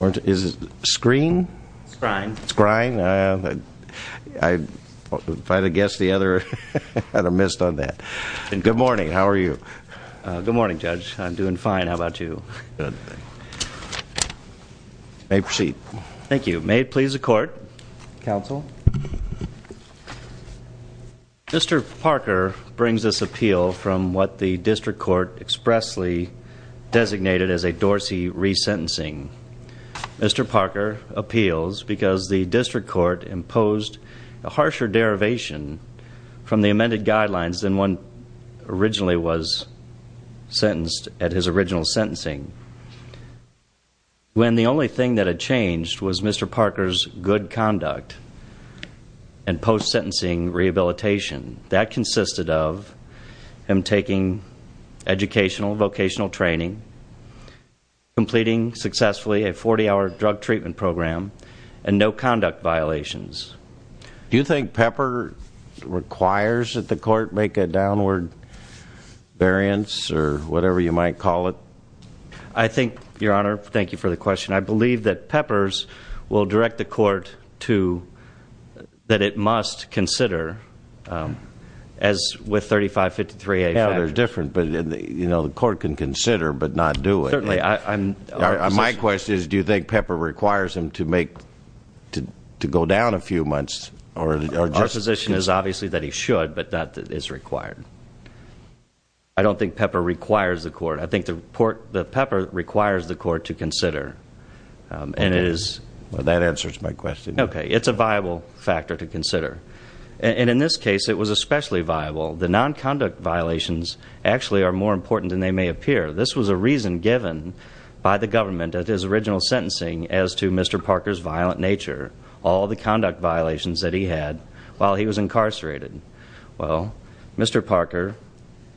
Is it screen? Scrine. Scrine. If I had guessed the other, I would have missed on that. Good morning. How are you? Good morning, Judge. I'm doing fine. How about you? Good. You may proceed. Thank you. May it please the Court. Counsel. Mr. Parker brings this appeal from what the District Court expressly designated as a Mr. Parker appeals because the District Court imposed a harsher derivation from the amended guidelines than one originally was sentenced at his original sentencing, when the only thing that had changed was Mr. Parker's good conduct and post-sentencing rehabilitation. That consisted of him taking educational, vocational training, completing successfully a 40-hour drug treatment program, and no conduct violations. Do you think Pepper requires that the Court make a downward variance or whatever you might call it? I think, Your Honor, thank you for the question, and I believe that Pepper's will direct the Court to that it must consider, as with 3553A factors. Yeah, they're different, but, you know, the Court can consider but not do it. Certainly. My question is, do you think Pepper requires him to go down a few months? Our position is obviously that he should, but that is required. I don't think Pepper requires the Court. I think the Pepper requires the Court to consider. That answers my question. Okay. It's a viable factor to consider. And in this case, it was especially viable. The nonconduct violations actually are more important than they may appear. This was a reason given by the government at his original sentencing as to Mr. Parker's violent nature, all the conduct violations that he had while he was incarcerated. Well, Mr. Parker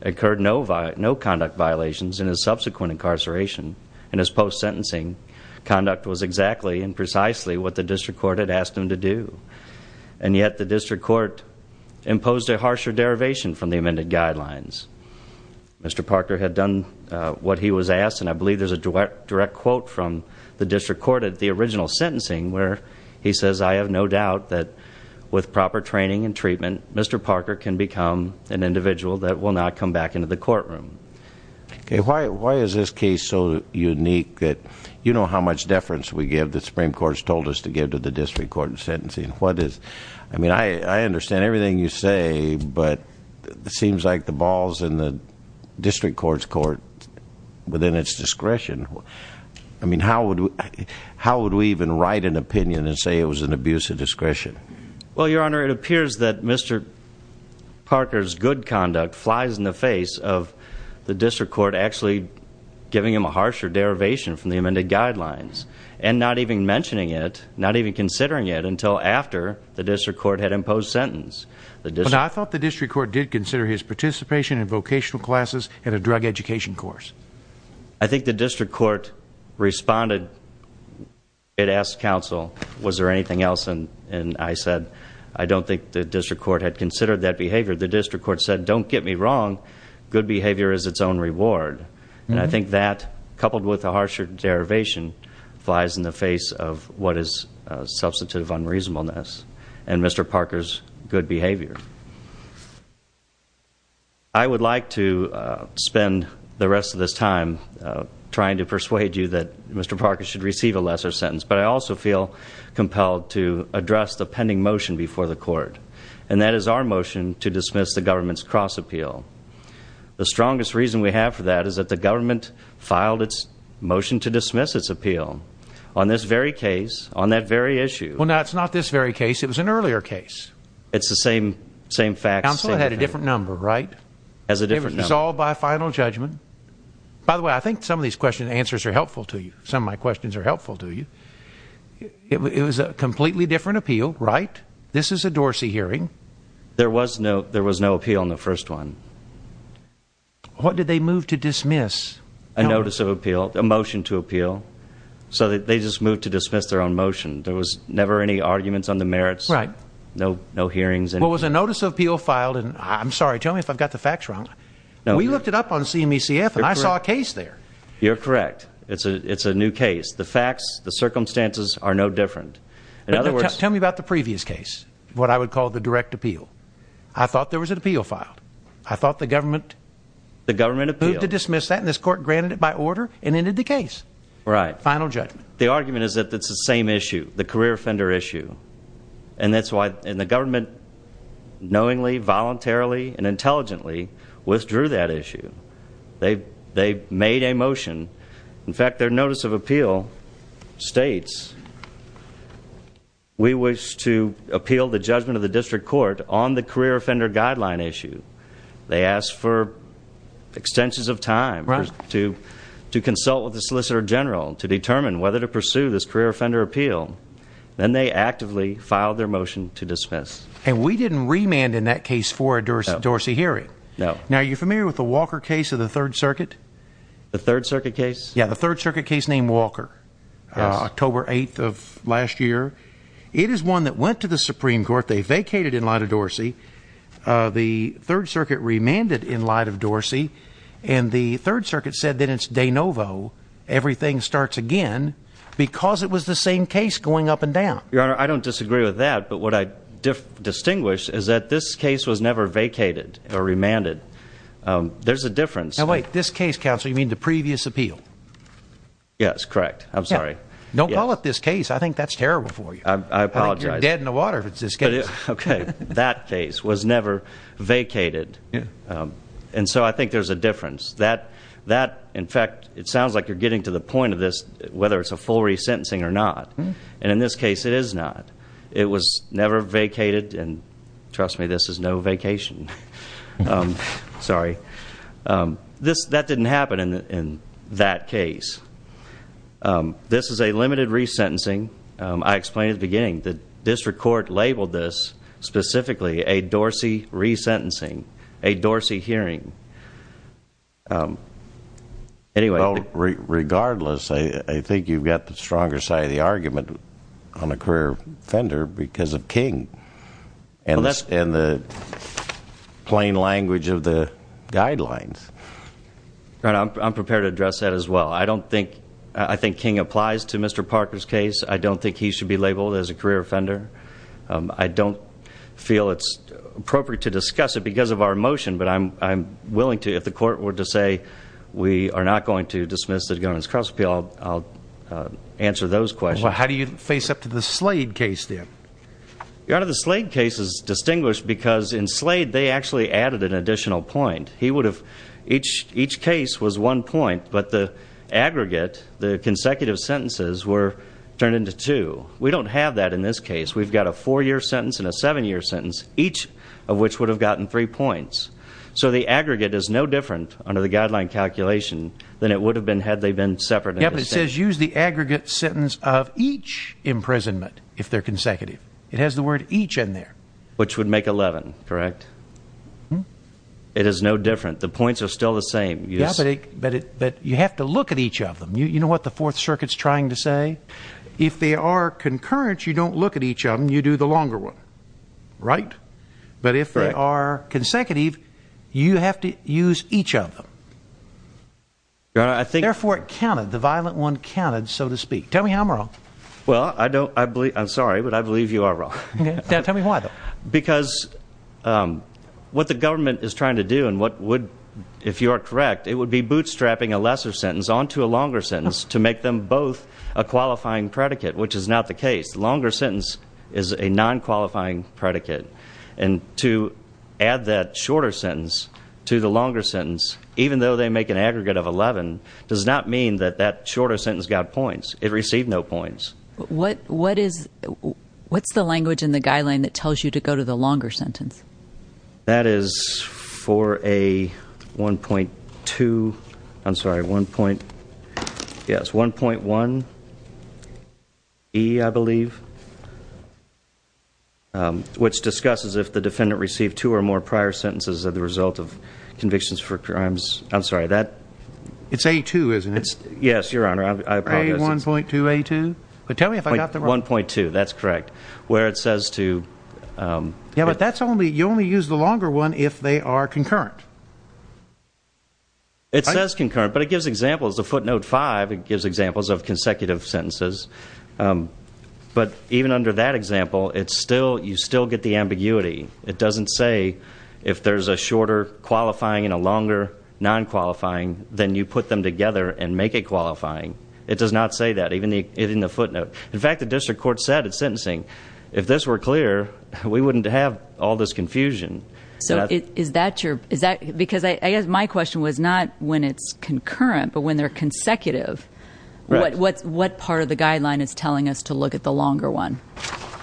incurred no conduct violations in his subsequent incarceration. In his post-sentencing, conduct was exactly and precisely what the district court had asked him to do, and yet the district court imposed a harsher derivation from the amended guidelines. Mr. Parker had done what he was asked, and I believe there's a direct quote from the district court at the original sentencing where he says, I have no doubt that with proper training and treatment, Mr. Parker can become an individual that will not come back into the courtroom. Okay. Why is this case so unique that you know how much deference we give, that the Supreme Court has told us to give to the district court in sentencing? I mean, I understand everything you say, but it seems like the ball is in the district court's court within its discretion. I mean, how would we even write an opinion and say it was an abuse of discretion? Well, Your Honor, it appears that Mr. Parker's good conduct flies in the face of the district court actually giving him a harsher derivation from the amended guidelines and not even mentioning it, not even considering it until after the district court had imposed sentence. But I thought the district court did consider his participation in vocational classes and a drug education course. I think the district court responded. It asked counsel, was there anything else? And I said, I don't think the district court had considered that behavior. The district court said, don't get me wrong. Good behavior is its own reward. And I think that, coupled with a harsher derivation, flies in the face of what is a substitute of unreasonableness and Mr. Parker's good behavior. I would like to spend the rest of this time trying to persuade you that Mr. Parker should receive a lesser sentence, but I also feel compelled to address the pending motion before the court, and that is our motion to dismiss the government's cross-appeal. The strongest reason we have for that is that the government filed its motion to dismiss its appeal. On this very case, on that very issue... Well, no, it's not this very case. It was an earlier case. It's the same facts. Counsel had a different number, right? It was resolved by a final judgment. By the way, I think some of these questions' answers are helpful to you. Some of my questions are helpful to you. It was a completely different appeal, right? This is a Dorsey hearing. There was no appeal in the first one. What did they move to dismiss? A notice of appeal, a motion to appeal. So they just moved to dismiss their own motion. There was never any arguments on the merits. Right. No hearings. Well, it was a notice of appeal filed, and I'm sorry, tell me if I've got the facts wrong. We looked it up on CME-CF, and I saw a case there. You're correct. It's a new case. The facts, the circumstances are no different. In other words... Tell me about the previous case, what I would call the direct appeal. I thought there was an appeal filed. I thought the government... The government appealed. ...moved to dismiss that, and this court granted it by order and ended the case. Right. Final judgment. The argument is that it's the same issue, the career offender issue, and that's why the government knowingly, voluntarily, and intelligently withdrew that issue. They made a motion. In fact, their notice of appeal states, we wish to appeal the judgment of the district court on the career offender guideline issue. They asked for extensions of time to consult with the solicitor general to determine whether to pursue this career offender appeal. Then they actively filed their motion to dismiss. And we didn't remand in that case for a Dorsey hearing. No. Now, are you familiar with the Walker case of the Third Circuit? The Third Circuit case? Yeah, the Third Circuit case named Walker. Yes. October 8th of last year. It is one that went to the Supreme Court. They vacated in light of Dorsey. The Third Circuit remanded in light of Dorsey, and the Third Circuit said that it's de novo, everything starts again, because it was the same case going up and down. Your Honor, I don't disagree with that, but what I distinguish is that this case was never vacated or remanded. There's a difference. Now, wait. This case, counsel, you mean the previous appeal? Yes, correct. I'm sorry. Don't call it this case. I think that's terrible for you. I apologize. I think you're dead in the water if it's this case. Okay. That case was never vacated. And so I think there's a difference. In fact, it sounds like you're getting to the point of this, whether it's a full resentencing or not. And in this case, it is not. It was never vacated. And trust me, this is no vacation. Sorry. That didn't happen in that case. This is a limited resentencing. I explained at the beginning. The district court labeled this specifically a Dorsey resentencing, a Dorsey hearing. Regardless, I think you've got the stronger side of the argument on the career offender because of King and the plain language of the guidelines. Your Honor, I'm prepared to address that as well. I think King applies to Mr. Parker's case. I don't think he should be labeled as a career offender. I don't feel it's appropriate to discuss it because of our motion. But I'm willing to, if the court were to say we are not going to dismiss it against cross-appeal, I'll answer those questions. Well, how do you face up to the Slade case then? Your Honor, the Slade case is distinguished because in Slade they actually added an additional point. Each case was one point, but the aggregate, the consecutive sentences were turned into two. We don't have that in this case. We've got a four-year sentence and a seven-year sentence, each of which would have gotten three points. So the aggregate is no different under the guideline calculation than it would have been had they been separate. Yes, but it says use the aggregate sentence of each imprisonment if they're consecutive. It has the word each in there. Which would make 11, correct? It is no different. The points are still the same. Yes, but you have to look at each of them. You know what the Fourth Circuit's trying to say? If they are concurrent, you don't look at each of them. You do the longer one, right? But if they are consecutive, you have to use each of them. Therefore, it counted. The violent one counted, so to speak. Tell me I'm wrong. Well, I'm sorry, but I believe you are wrong. Tell me why, though. Because what the government is trying to do and what would, if you are correct, it would be bootstrapping a lesser sentence onto a longer sentence to make them both a qualifying predicate, which is not the case. The longer sentence is a non-qualifying predicate. And to add that shorter sentence to the longer sentence, even though they make an aggregate of 11, does not mean that that shorter sentence got points. It received no points. What's the language in the guideline that tells you to go to the longer sentence? That is for a 1.2, I'm sorry, 1.1E, I believe, which discusses if the defendant received two or more prior sentences as a result of convictions for crimes. I'm sorry, that? It's A2, isn't it? Yes, Your Honor, I apologize. A1.2A2? But tell me if I got them wrong. 1.2, that's correct, where it says to... Yeah, but that's only, you only use the longer one if they are concurrent. It says concurrent, but it gives examples. Footnote 5, it gives examples of consecutive sentences. But even under that example, it's still, you still get the ambiguity. It doesn't say if there's a shorter qualifying and a longer non-qualifying, then you put them together and make it qualifying. It does not say that, even in the footnote. In fact, the district court said at sentencing, if this were clear, we wouldn't have all this confusion. So is that your, is that, because I guess my question was not when it's concurrent, but when they're consecutive. What part of the guideline is telling us to look at the longer one?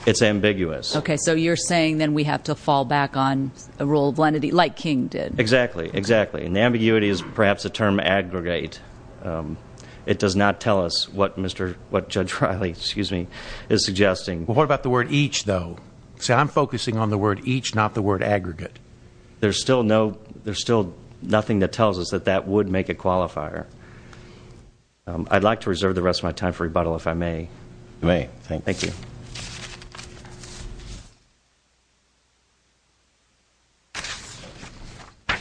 It's ambiguous. Okay, so you're saying then we have to fall back on a rule of lenity like King did. Exactly, exactly. And the ambiguity is perhaps a term aggregate. It does not tell us what Mr., what Judge Riley, excuse me, is suggesting. Well, what about the word each, though? See, I'm focusing on the word each, not the word aggregate. There's still no, there's still nothing that tells us that that would make it qualifier. I'd like to reserve the rest of my time for rebuttal, if I may. You may, thank you. Thank you.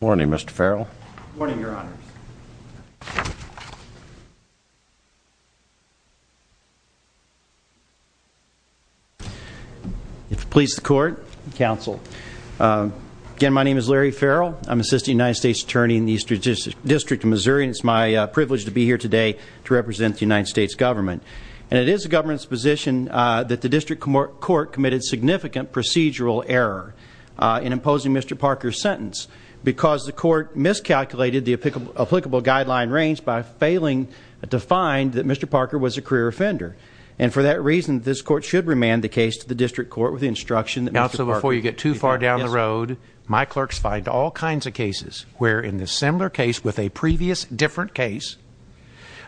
Morning, Mr. Farrell. Morning, Your Honors. If it pleases the court, counsel. Again, my name is Larry Farrell. I'm Assistant United States Attorney in the Eastern District of Missouri, and it's my privilege to be here today to represent the United States government. And it is the government's position that the district court committed significant procedural error in imposing Mr. Parker's sentence because the court miscalculated the applicable guideline range by failing to find that Mr. Parker was a career offender. And for that reason, this court should remand the case to the district court with the instruction that Mr. Parker Now, so before you get too far down the road, my clerks find all kinds of cases where in a similar case with a previous different case,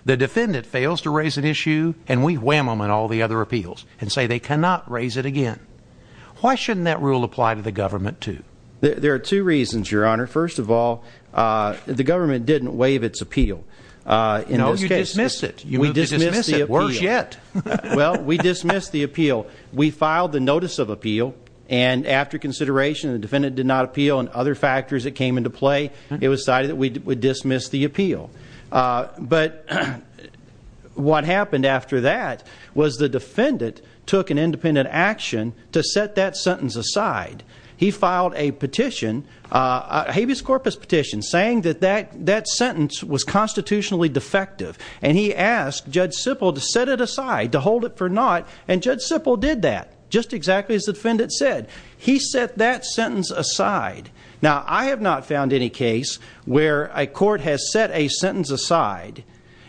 the defendant fails to raise an issue, and we wham them on all the other appeals and say they cannot raise it again. Why shouldn't that rule apply to the government, too? There are two reasons, Your Honor. First of all, the government didn't waive its appeal in those cases. No, you dismissed it. You moved to dismiss it. Worse yet. Well, we dismissed the appeal. We filed the notice of appeal, and after consideration, the defendant did not appeal, and other factors that came into play, it was decided that we would dismiss the appeal. But what happened after that was the defendant took an independent action to set that sentence aside. He filed a petition, a habeas corpus petition, saying that that sentence was constitutionally defective, and he asked Judge Sippel to set it aside, to hold it for naught, and Judge Sippel did that, just exactly as the defendant said. He set that sentence aside. Now, I have not found any case where a court has set a sentence aside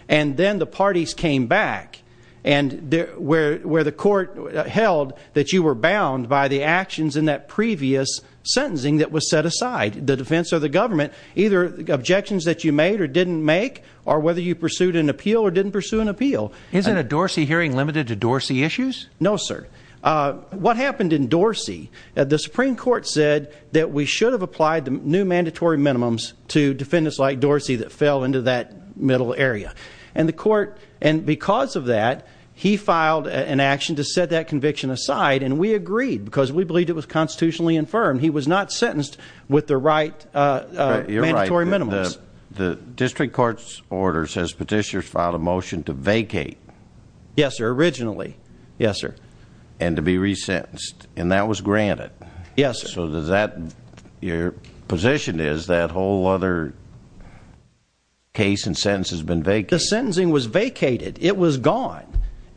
and then the parties came back where the court held that you were bound by the actions in that previous sentencing that was set aside, the defense or the government, either objections that you made or didn't make or whether you pursued an appeal or didn't pursue an appeal. Isn't a Dorsey hearing limited to Dorsey issues? No, sir. What happened in Dorsey, the Supreme Court said that we should have applied new mandatory minimums to defendants like Dorsey that fell into that middle area. And because of that, he filed an action to set that conviction aside, and we agreed because we believed it was constitutionally infirmed. He was not sentenced with the right mandatory minimums. You're right. The district court's order says petitioners filed a motion to vacate. Yes, sir, originally. Yes, sir. And to be resentenced, and that was granted. Yes, sir. Your position is that whole other case and sentence has been vacated. The sentencing was vacated. It was gone.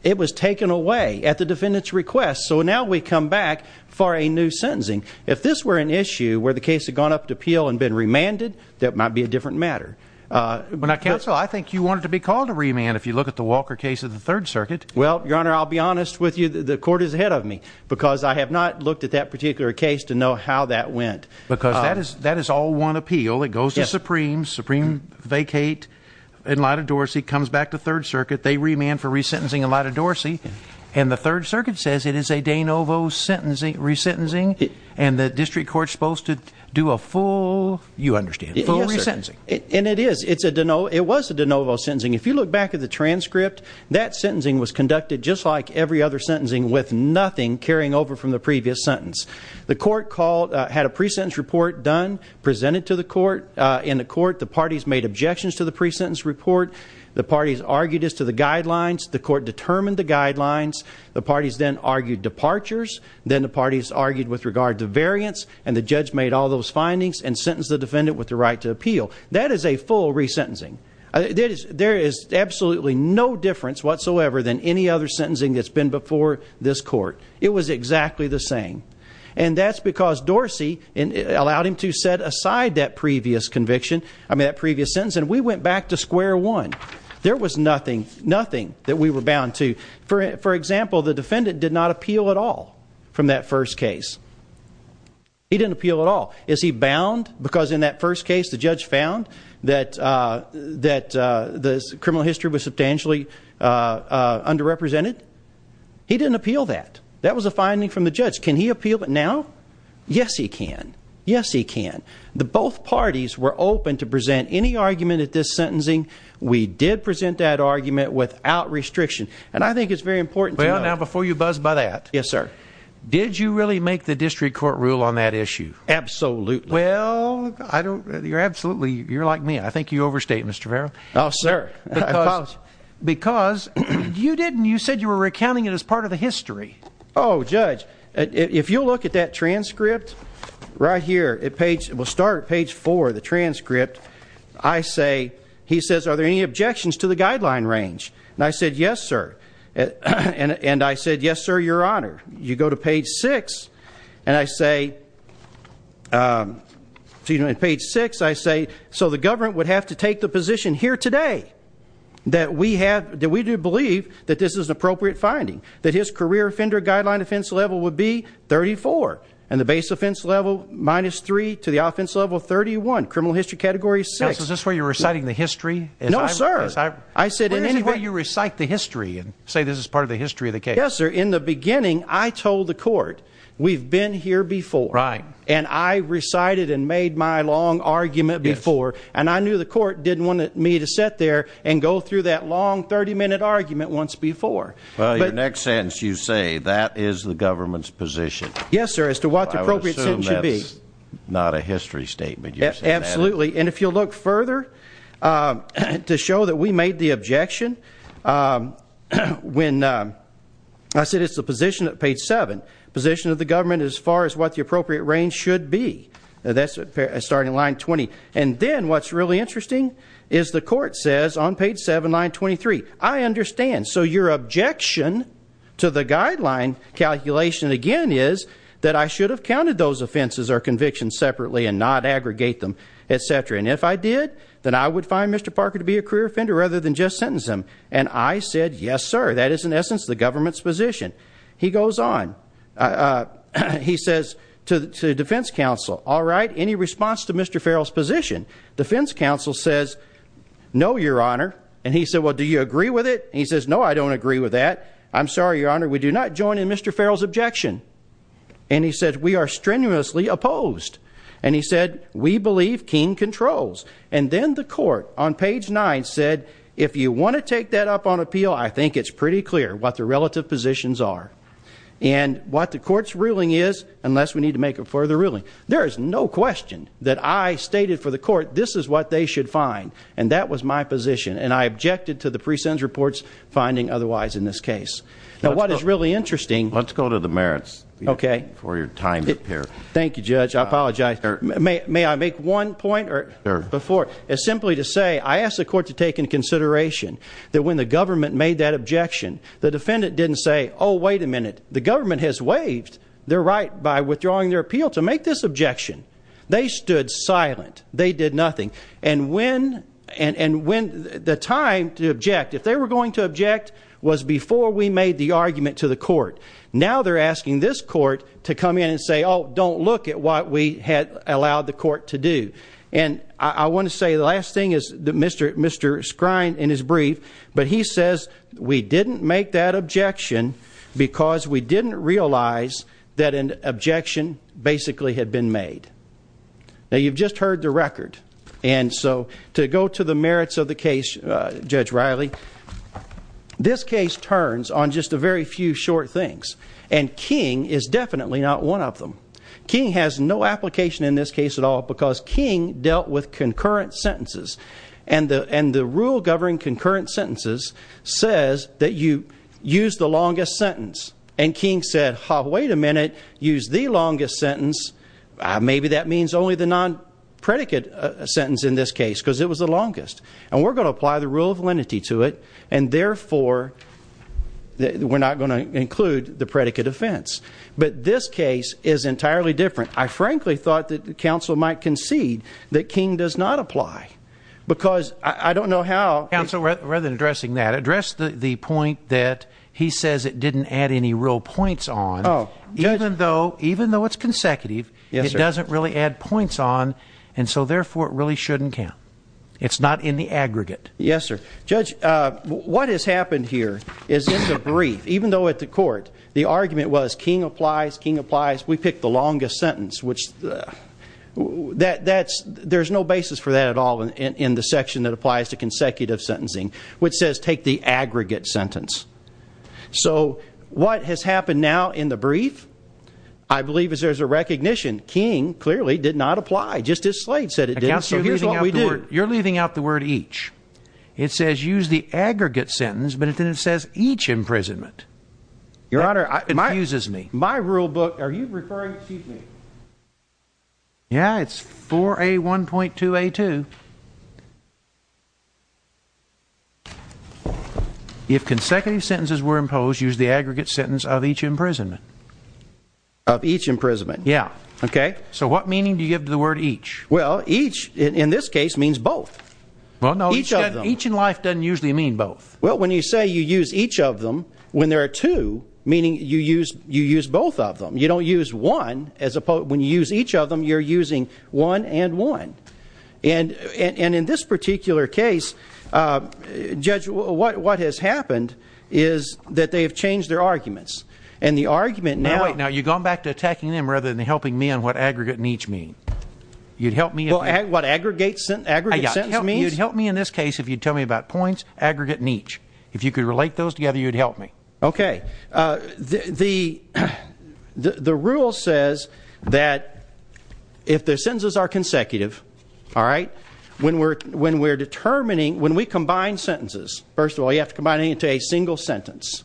It was taken away at the defendant's request. So now we come back for a new sentencing. If this were an issue where the case had gone up to appeal and been remanded, that might be a different matter. Counsel, I think you want it to be called a remand if you look at the Walker case of the Third Circuit. Well, Your Honor, I'll be honest with you. The court is ahead of me because I have not looked at that particular case to know how that went. Because that is all one appeal. It goes to Supreme, Supreme vacate in light of Dorsey, comes back to Third Circuit. They remand for resentencing in light of Dorsey, and the Third Circuit says it is a de novo resentencing, and the district court's supposed to do a full, you understand, full resentencing. Yes, sir. And it is. It was a de novo sentencing. If you look back at the transcript, that sentencing was conducted just like every other sentencing, with nothing carrying over from the previous sentence. The court had a pre-sentence report done, presented to the court. In the court, the parties made objections to the pre-sentence report. The parties argued as to the guidelines. The court determined the guidelines. The parties then argued departures. Then the parties argued with regard to variance, and the judge made all those findings and sentenced the defendant with the right to appeal. That is a full resentencing. There is absolutely no difference whatsoever than any other sentencing that's been before this court. It was exactly the same. And that's because Dorsey allowed him to set aside that previous conviction, I mean that previous sentence, and we went back to square one. There was nothing, nothing that we were bound to. For example, the defendant did not appeal at all from that first case. He didn't appeal at all. Is he bound because in that first case the judge found that the criminal history was substantially underrepresented? He didn't appeal that. That was a finding from the judge. Can he appeal it now? Yes, he can. Yes, he can. Both parties were open to present any argument at this sentencing. We did present that argument without restriction. And I think it's very important to know. Well, now, before you buzz by that, did you really make the district court rule on that issue? Absolutely. Well, I don't, you're absolutely, you're like me, I think you overstate, Mr. Farrell. Oh, sir. Because you didn't, you said you were recounting it as part of the history. Oh, judge, if you'll look at that transcript right here, it will start at page four, the transcript. I say, he says, are there any objections to the guideline range? And I said, yes, sir. And I said, yes, sir, your honor. You go to page six, and I say, so, you know, at page six, I say, so the government would have to take the position here today that we have, that we do believe that this is an appropriate finding, that his career offender guideline offense level would be 34, and the base offense level minus three to the offense level 31, criminal history category six. Counsel, is this where you're reciting the history? No, sir. I said in any way. Where is it where you recite the history and say this is part of the history of the case? Yes, sir. In the beginning, I told the court, we've been here before. Right. And I recited and made my long argument before, and I knew the court didn't want me to sit there and go through that long 30-minute argument once before. Well, your next sentence, you say, that is the government's position. Yes, sir, as to what the appropriate sentence should be. I would assume that's not a history statement. Absolutely. And if you look further, to show that we made the objection when I said it's the position at page seven, position of the government as far as what the appropriate range should be. That's starting line 20. And then what's really interesting is the court says on page seven, line 23, I understand. So your objection to the guideline calculation, again, is that I should have counted those offenses or convictions separately and not aggregate them. Et cetera. And if I did, then I would find Mr. Parker to be a career offender rather than just sentence him. And I said, yes, sir, that is in essence the government's position. He goes on. He says to defense counsel, all right, any response to Mr. Farrell's position? Defense counsel says, no, your honor. And he said, well, do you agree with it? He says, no, I don't agree with that. I'm sorry, your honor, we do not join in Mr. Farrell's objection. And he said, we are strenuously opposed. And he said, we believe King controls. And then the court on page nine said, if you want to take that up on appeal, I think it's pretty clear what the relative positions are. And what the court's ruling is, unless we need to make a further ruling. There is no question that I stated for the court this is what they should find. And that was my position. And I objected to the pre-sentence reports finding otherwise in this case. Now, what is really interesting. Let's go to the merits. Okay. For your time here. Thank you, Judge. I apologize. May I make one point before? As simply to say, I asked the court to take into consideration that when the government made that objection, the defendant didn't say, oh, wait a minute. The government has waived their right by withdrawing their appeal to make this objection. They stood silent. They did nothing. And when the time to object, if they were going to object, was before we made the argument to the court. Now they're asking this court to come in and say, oh, don't look at what we had allowed the court to do. And I want to say the last thing is Mr. Scrine in his brief. But he says we didn't make that objection because we didn't realize that an objection basically had been made. Now, you've just heard the record. And so to go to the merits of the case, Judge Riley, this case turns on just a very few short things. And King is definitely not one of them. King has no application in this case at all because King dealt with concurrent sentences. And the rule governing concurrent sentences says that you use the longest sentence. And King said, oh, wait a minute. Use the longest sentence. Maybe that means only the non-predicate sentence in this case because it was the longest. And we're going to apply the rule of lenity to it. And, therefore, we're not going to include the predicate offense. But this case is entirely different. I frankly thought that counsel might concede that King does not apply because I don't know how. Counsel, rather than addressing that, address the point that he says it didn't add any real points on. Even though it's consecutive, it doesn't really add points on, and so, therefore, it really shouldn't count. It's not in the aggregate. Yes, sir. Judge, what has happened here is in the brief, even though at the court the argument was King applies, King applies, we pick the longest sentence, which there's no basis for that at all in the section that applies to consecutive sentencing, which says take the aggregate sentence. So what has happened now in the brief, I believe, is there's a recognition King clearly did not apply. Justice Slate said it didn't. Counsel, here's what we do. You're leaving out the word each. It says use the aggregate sentence, but then it says each imprisonment. Your Honor, it confuses me. My rule book, are you referring, excuse me, yeah, it's 4A1.2A2. If consecutive sentences were imposed, use the aggregate sentence of each imprisonment. Of each imprisonment. Yeah. Okay. So what meaning do you give to the word each? Well, each in this case means both. Well, no. Each in life doesn't usually mean both. Well, when you say you use each of them, when there are two, meaning you use both of them. You don't use one. When you use each of them, you're using one and one. And in this particular case, Judge, what has happened is that they have changed their arguments. And the argument now. Now, you've gone back to attacking them rather than helping me on what aggregate and each mean. You'd help me. What aggregate sentence means? You'd help me in this case if you'd tell me about points, aggregate and each. If you could relate those together, you'd help me. Okay. The rule says that if the sentences are consecutive, all right, when we're determining, when we combine sentences, first of all, you have to combine them into a single sentence.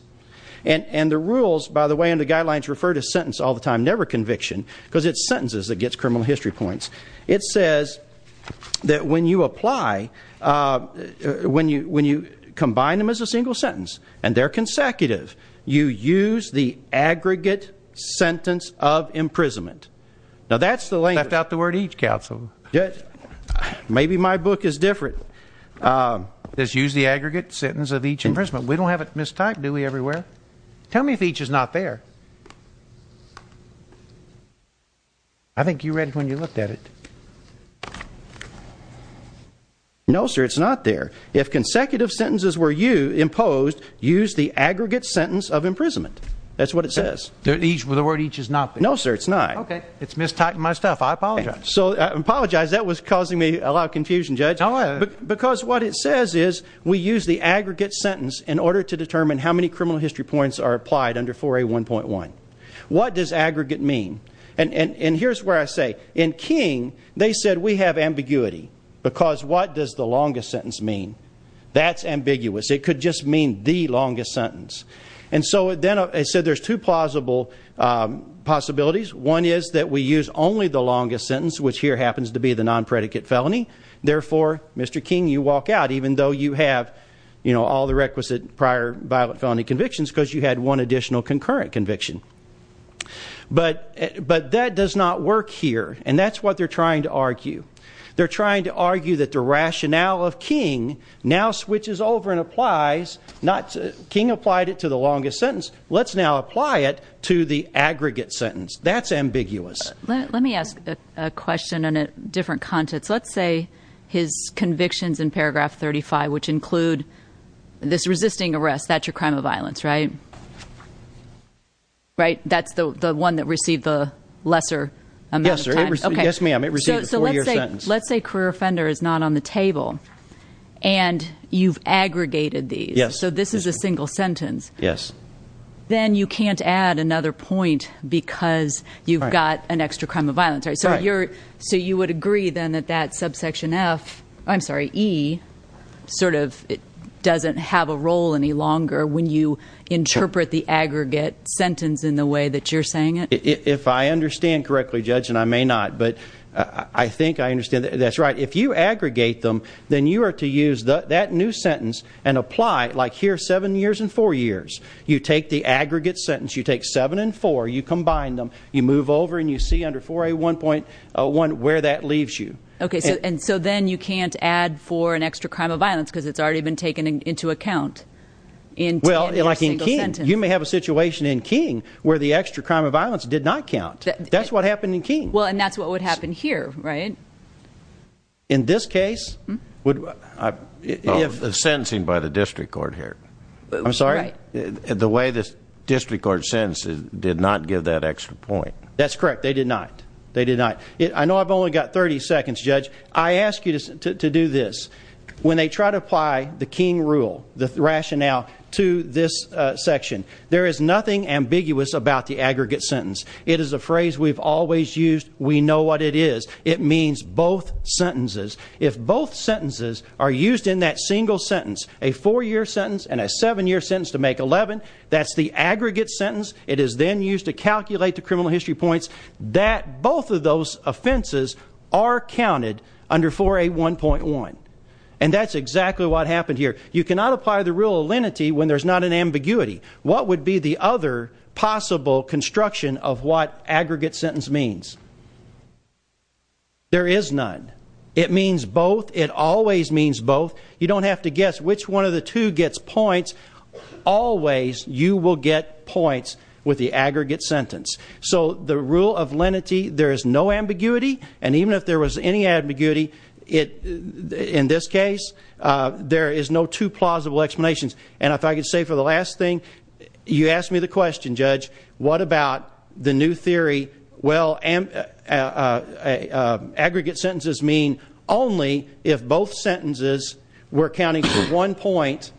And the rules, by the way, and the guidelines refer to sentence all the time, never conviction, because it's sentences that gets criminal history points. It says that when you apply, when you combine them as a single sentence and they're consecutive, you use the aggregate sentence of imprisonment. Now, that's the language. Left out the word each, counsel. Maybe my book is different. It says use the aggregate sentence of each imprisonment. We don't have it mistyped, do we, everywhere? Tell me if each is not there. I think you read it when you looked at it. No, sir, it's not there. If consecutive sentences were imposed, use the aggregate sentence of imprisonment. That's what it says. The word each is not there. No, sir, it's not. Okay. It's mistyping my stuff. I apologize. I apologize. That was causing me a lot of confusion, Judge. Because what it says is we use the aggregate sentence in order to determine how many criminal history points are applied under 4A1.1. What does aggregate mean? And here's where I say, in King, they said we have ambiguity. Because what does the longest sentence mean? That's ambiguous. It could just mean the longest sentence. And so then I said there's two plausible possibilities. One is that we use only the longest sentence, which here happens to be the non-predicate felony. All the requisite prior violent felony convictions because you had one additional concurrent conviction. But that does not work here. And that's what they're trying to argue. They're trying to argue that the rationale of King now switches over and applies. King applied it to the longest sentence. Let's now apply it to the aggregate sentence. That's ambiguous. Let me ask a question in a different context. Let's say his convictions in paragraph 35, which include this resisting arrest, that's your crime of violence, right? Right? That's the one that received the lesser amount of time? Yes, ma'am. It received a four-year sentence. Let's say career offender is not on the table and you've aggregated these. Yes. So this is a single sentence. Yes. Then you can't add another point because you've got an extra crime of violence. Right. So you would agree then that that subsection F, I'm sorry, E, sort of doesn't have a role any longer when you interpret the aggregate sentence in the way that you're saying it? If I understand correctly, Judge, and I may not, but I think I understand. That's right. If you aggregate them, then you are to use that new sentence and apply, like here, seven years and four years. You take the aggregate sentence. You take seven and four. You combine them. You move over and you see under 4A1.1 where that leaves you. Okay. And so then you can't add for an extra crime of violence because it's already been taken into account in your single sentence. Well, like in Keene, you may have a situation in Keene where the extra crime of violence did not count. That's what happened in Keene. Well, and that's what would happen here, right? In this case, if sentencing by the district court here. I'm sorry? The way the district court sentences did not give that extra point. That's correct. They did not. They did not. I know I've only got 30 seconds, Judge. I ask you to do this. When they try to apply the Keene rule, the rationale to this section, there is nothing ambiguous about the aggregate sentence. It is a phrase we've always used. We know what it is. It means both sentences. If both sentences are used in that single sentence, a four-year sentence and a seven-year sentence to make 11, that's the aggregate sentence. It is then used to calculate the criminal history points that both of those offenses are counted under 4A1.1. And that's exactly what happened here. You cannot apply the rule of lenity when there's not an ambiguity. What would be the other possible construction of what aggregate sentence means? There is none. It means both. It always means both. You don't have to guess which one of the two gets points. Always you will get points with the aggregate sentence. So the rule of lenity, there is no ambiguity, and even if there was any ambiguity in this case, there is no two plausible explanations. And if I could say for the last thing, you asked me the question, Judge, what about the new theory, well, aggregate sentences mean only if both sentences were counting for one point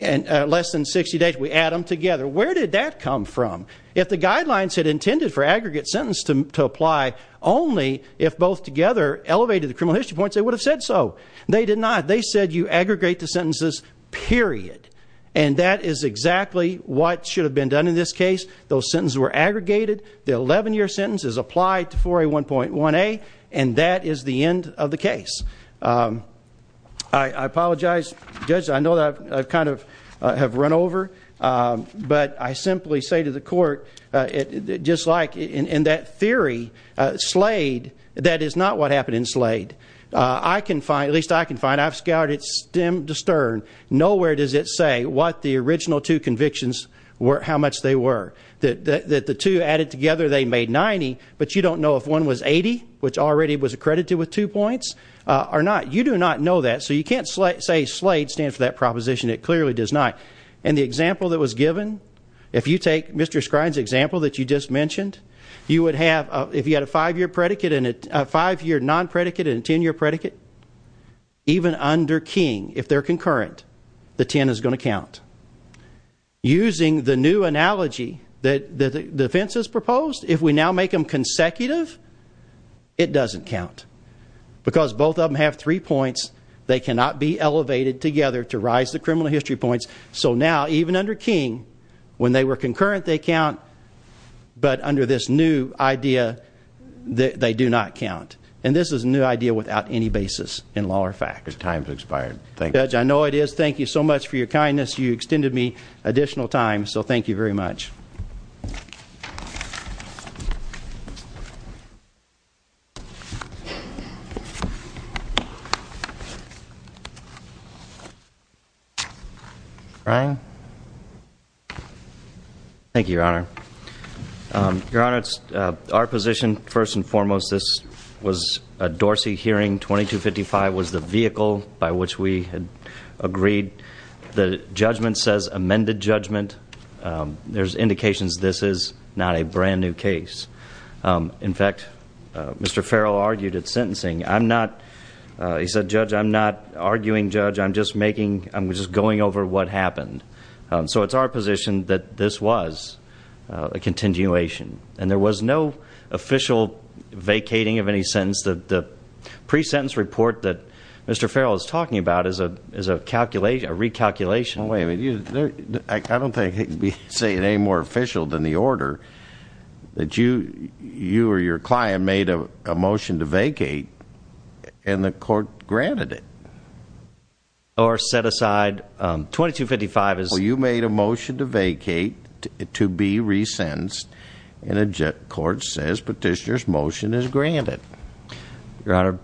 less than 60 days. We add them together. Where did that come from? If the guidelines had intended for aggregate sentence to apply only if both together elevated the criminal history points, they would have said so. They did not. They said you aggregate the sentences, period. And that is exactly what should have been done in this case. Those sentences were aggregated. The 11-year sentence is applied to 4A1.1A, and that is the end of the case. I apologize, Judge. I know that I kind of have run over. But I simply say to the court, just like in that theory, Slade, that is not what happened in Slade. I can find, at least I can find, I've scoured it stem to stern. Nowhere does it say what the original two convictions were, how much they were. That the two added together, they made 90, but you don't know if one was 80, which already was accredited with two points, or not. You do not know that. So you can't say Slade stands for that proposition. It clearly does not. And the example that was given, if you take Mr. Skrine's example that you just mentioned, you would have, if you had a 5-year non-predicate and a 10-year predicate, even under King, if they're concurrent, the 10 is going to count. Using the new analogy that the defense has proposed, if we now make them consecutive, it doesn't count. Because both of them have three points, they cannot be elevated together to rise the criminal history points. So now, even under King, when they were concurrent, they count. But under this new idea, they do not count. And this is a new idea without any basis in law or fact. Your time has expired. Thank you. Judge, I know it is. Thank you so much for your kindness. You extended me additional time, so thank you very much. Brian? Thank you, Your Honor. Your Honor, our position, first and foremost, this was a Dorsey hearing. 2255 was the vehicle by which we had agreed. The judgment says amended judgment. There's indications this is not a brand-new case. In fact, Mr. Farrell argued at sentencing, he said, Judge, I'm not arguing, Judge. I'm just going over what happened. So it's our position that this was a continuation. And there was no official vacating of any sentence. The pre-sentence report that Mr. Farrell is talking about is a recalculation. Well, wait a minute. I don't think he can say it any more official than the order that you or your client made a motion to vacate, and the court granted it. Or set aside. 2255 is. Well, you made a motion to vacate, to be resentenced, and the court says petitioner's motion is granted. Your Honor,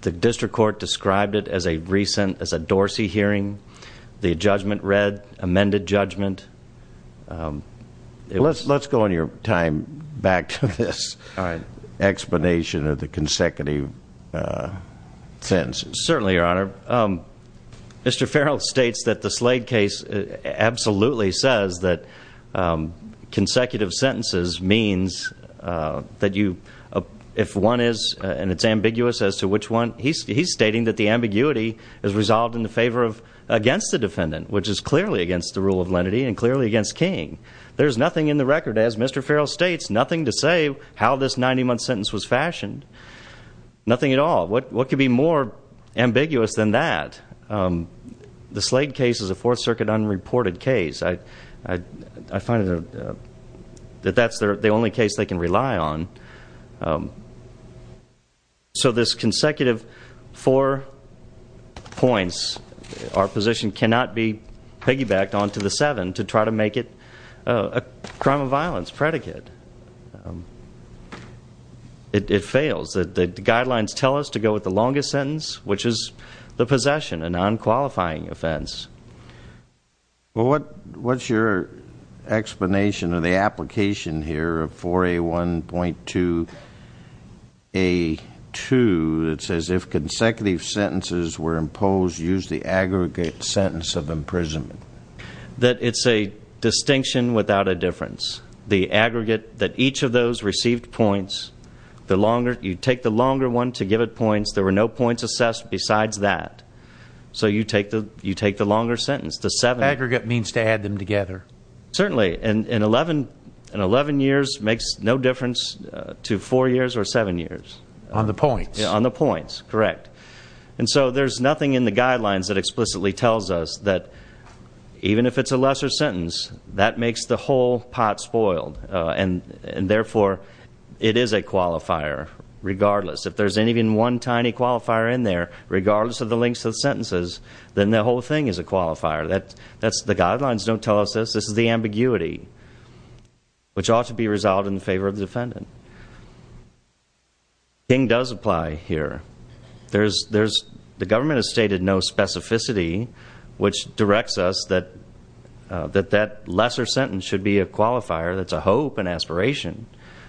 the district court described it as a recent, as a Dorsey hearing. The judgment read amended judgment. Let's go on your time back to this explanation of the consecutive sentences. Certainly, Your Honor. Mr. Farrell states that the Slade case absolutely says that consecutive sentences means that you, if one is, and it's ambiguous as to which one, he's stating that the ambiguity is resolved in the favor of, against the defendant, which is clearly against the rule of lenity and clearly against King. There's nothing in the record, as Mr. Farrell states, nothing to say how this 90-month sentence was fashioned. Nothing at all. What could be more ambiguous than that? The Slade case is a Fourth Circuit unreported case. I find that that's the only case they can rely on. So this consecutive four points, our position cannot be piggybacked onto the seven to try to make it a crime of violence predicate. It fails. The guidelines tell us to go with the longest sentence, which is the possession, a non-qualifying offense. Well, what's your explanation of the application here of 4A1.2A2 that says if consecutive sentences were imposed, use the aggregate sentence of imprisonment? That it's a distinction without a difference. The aggregate, that each of those received points. You take the longer one to give it points. There were no points assessed besides that. So you take the longer sentence, the seven. Aggregate means to add them together. Certainly. And 11 years makes no difference to four years or seven years. On the points. On the points, correct. And so there's nothing in the guidelines that explicitly tells us that even if it's a lesser sentence, that makes the whole pot spoiled. And therefore, it is a qualifier regardless. If there's even one tiny qualifier in there, regardless of the lengths of sentences, then the whole thing is a qualifier. The guidelines don't tell us this. This is the ambiguity, which ought to be resolved in favor of the defendant. The king does apply here. The government has stated no specificity, which directs us that that lesser sentence should be a qualifier that's a hope and aspiration.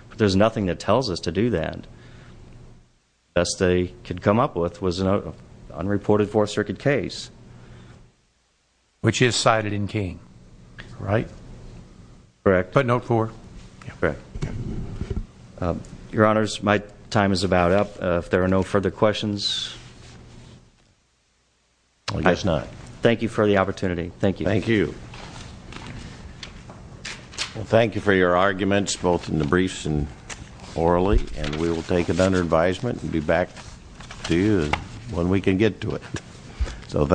But there's nothing that tells us to do that. The best they could come up with was an unreported Fourth Circuit case. Which is cited in King, right? Correct. Put note four. Correct. Your Honors, my time is about up. If there are no further questions. I guess not. Thank you for the opportunity. Thank you. Thank you. Thank you for your arguments, both in the briefs and orally. And we will take it under advisement and be back to you when we can get to it.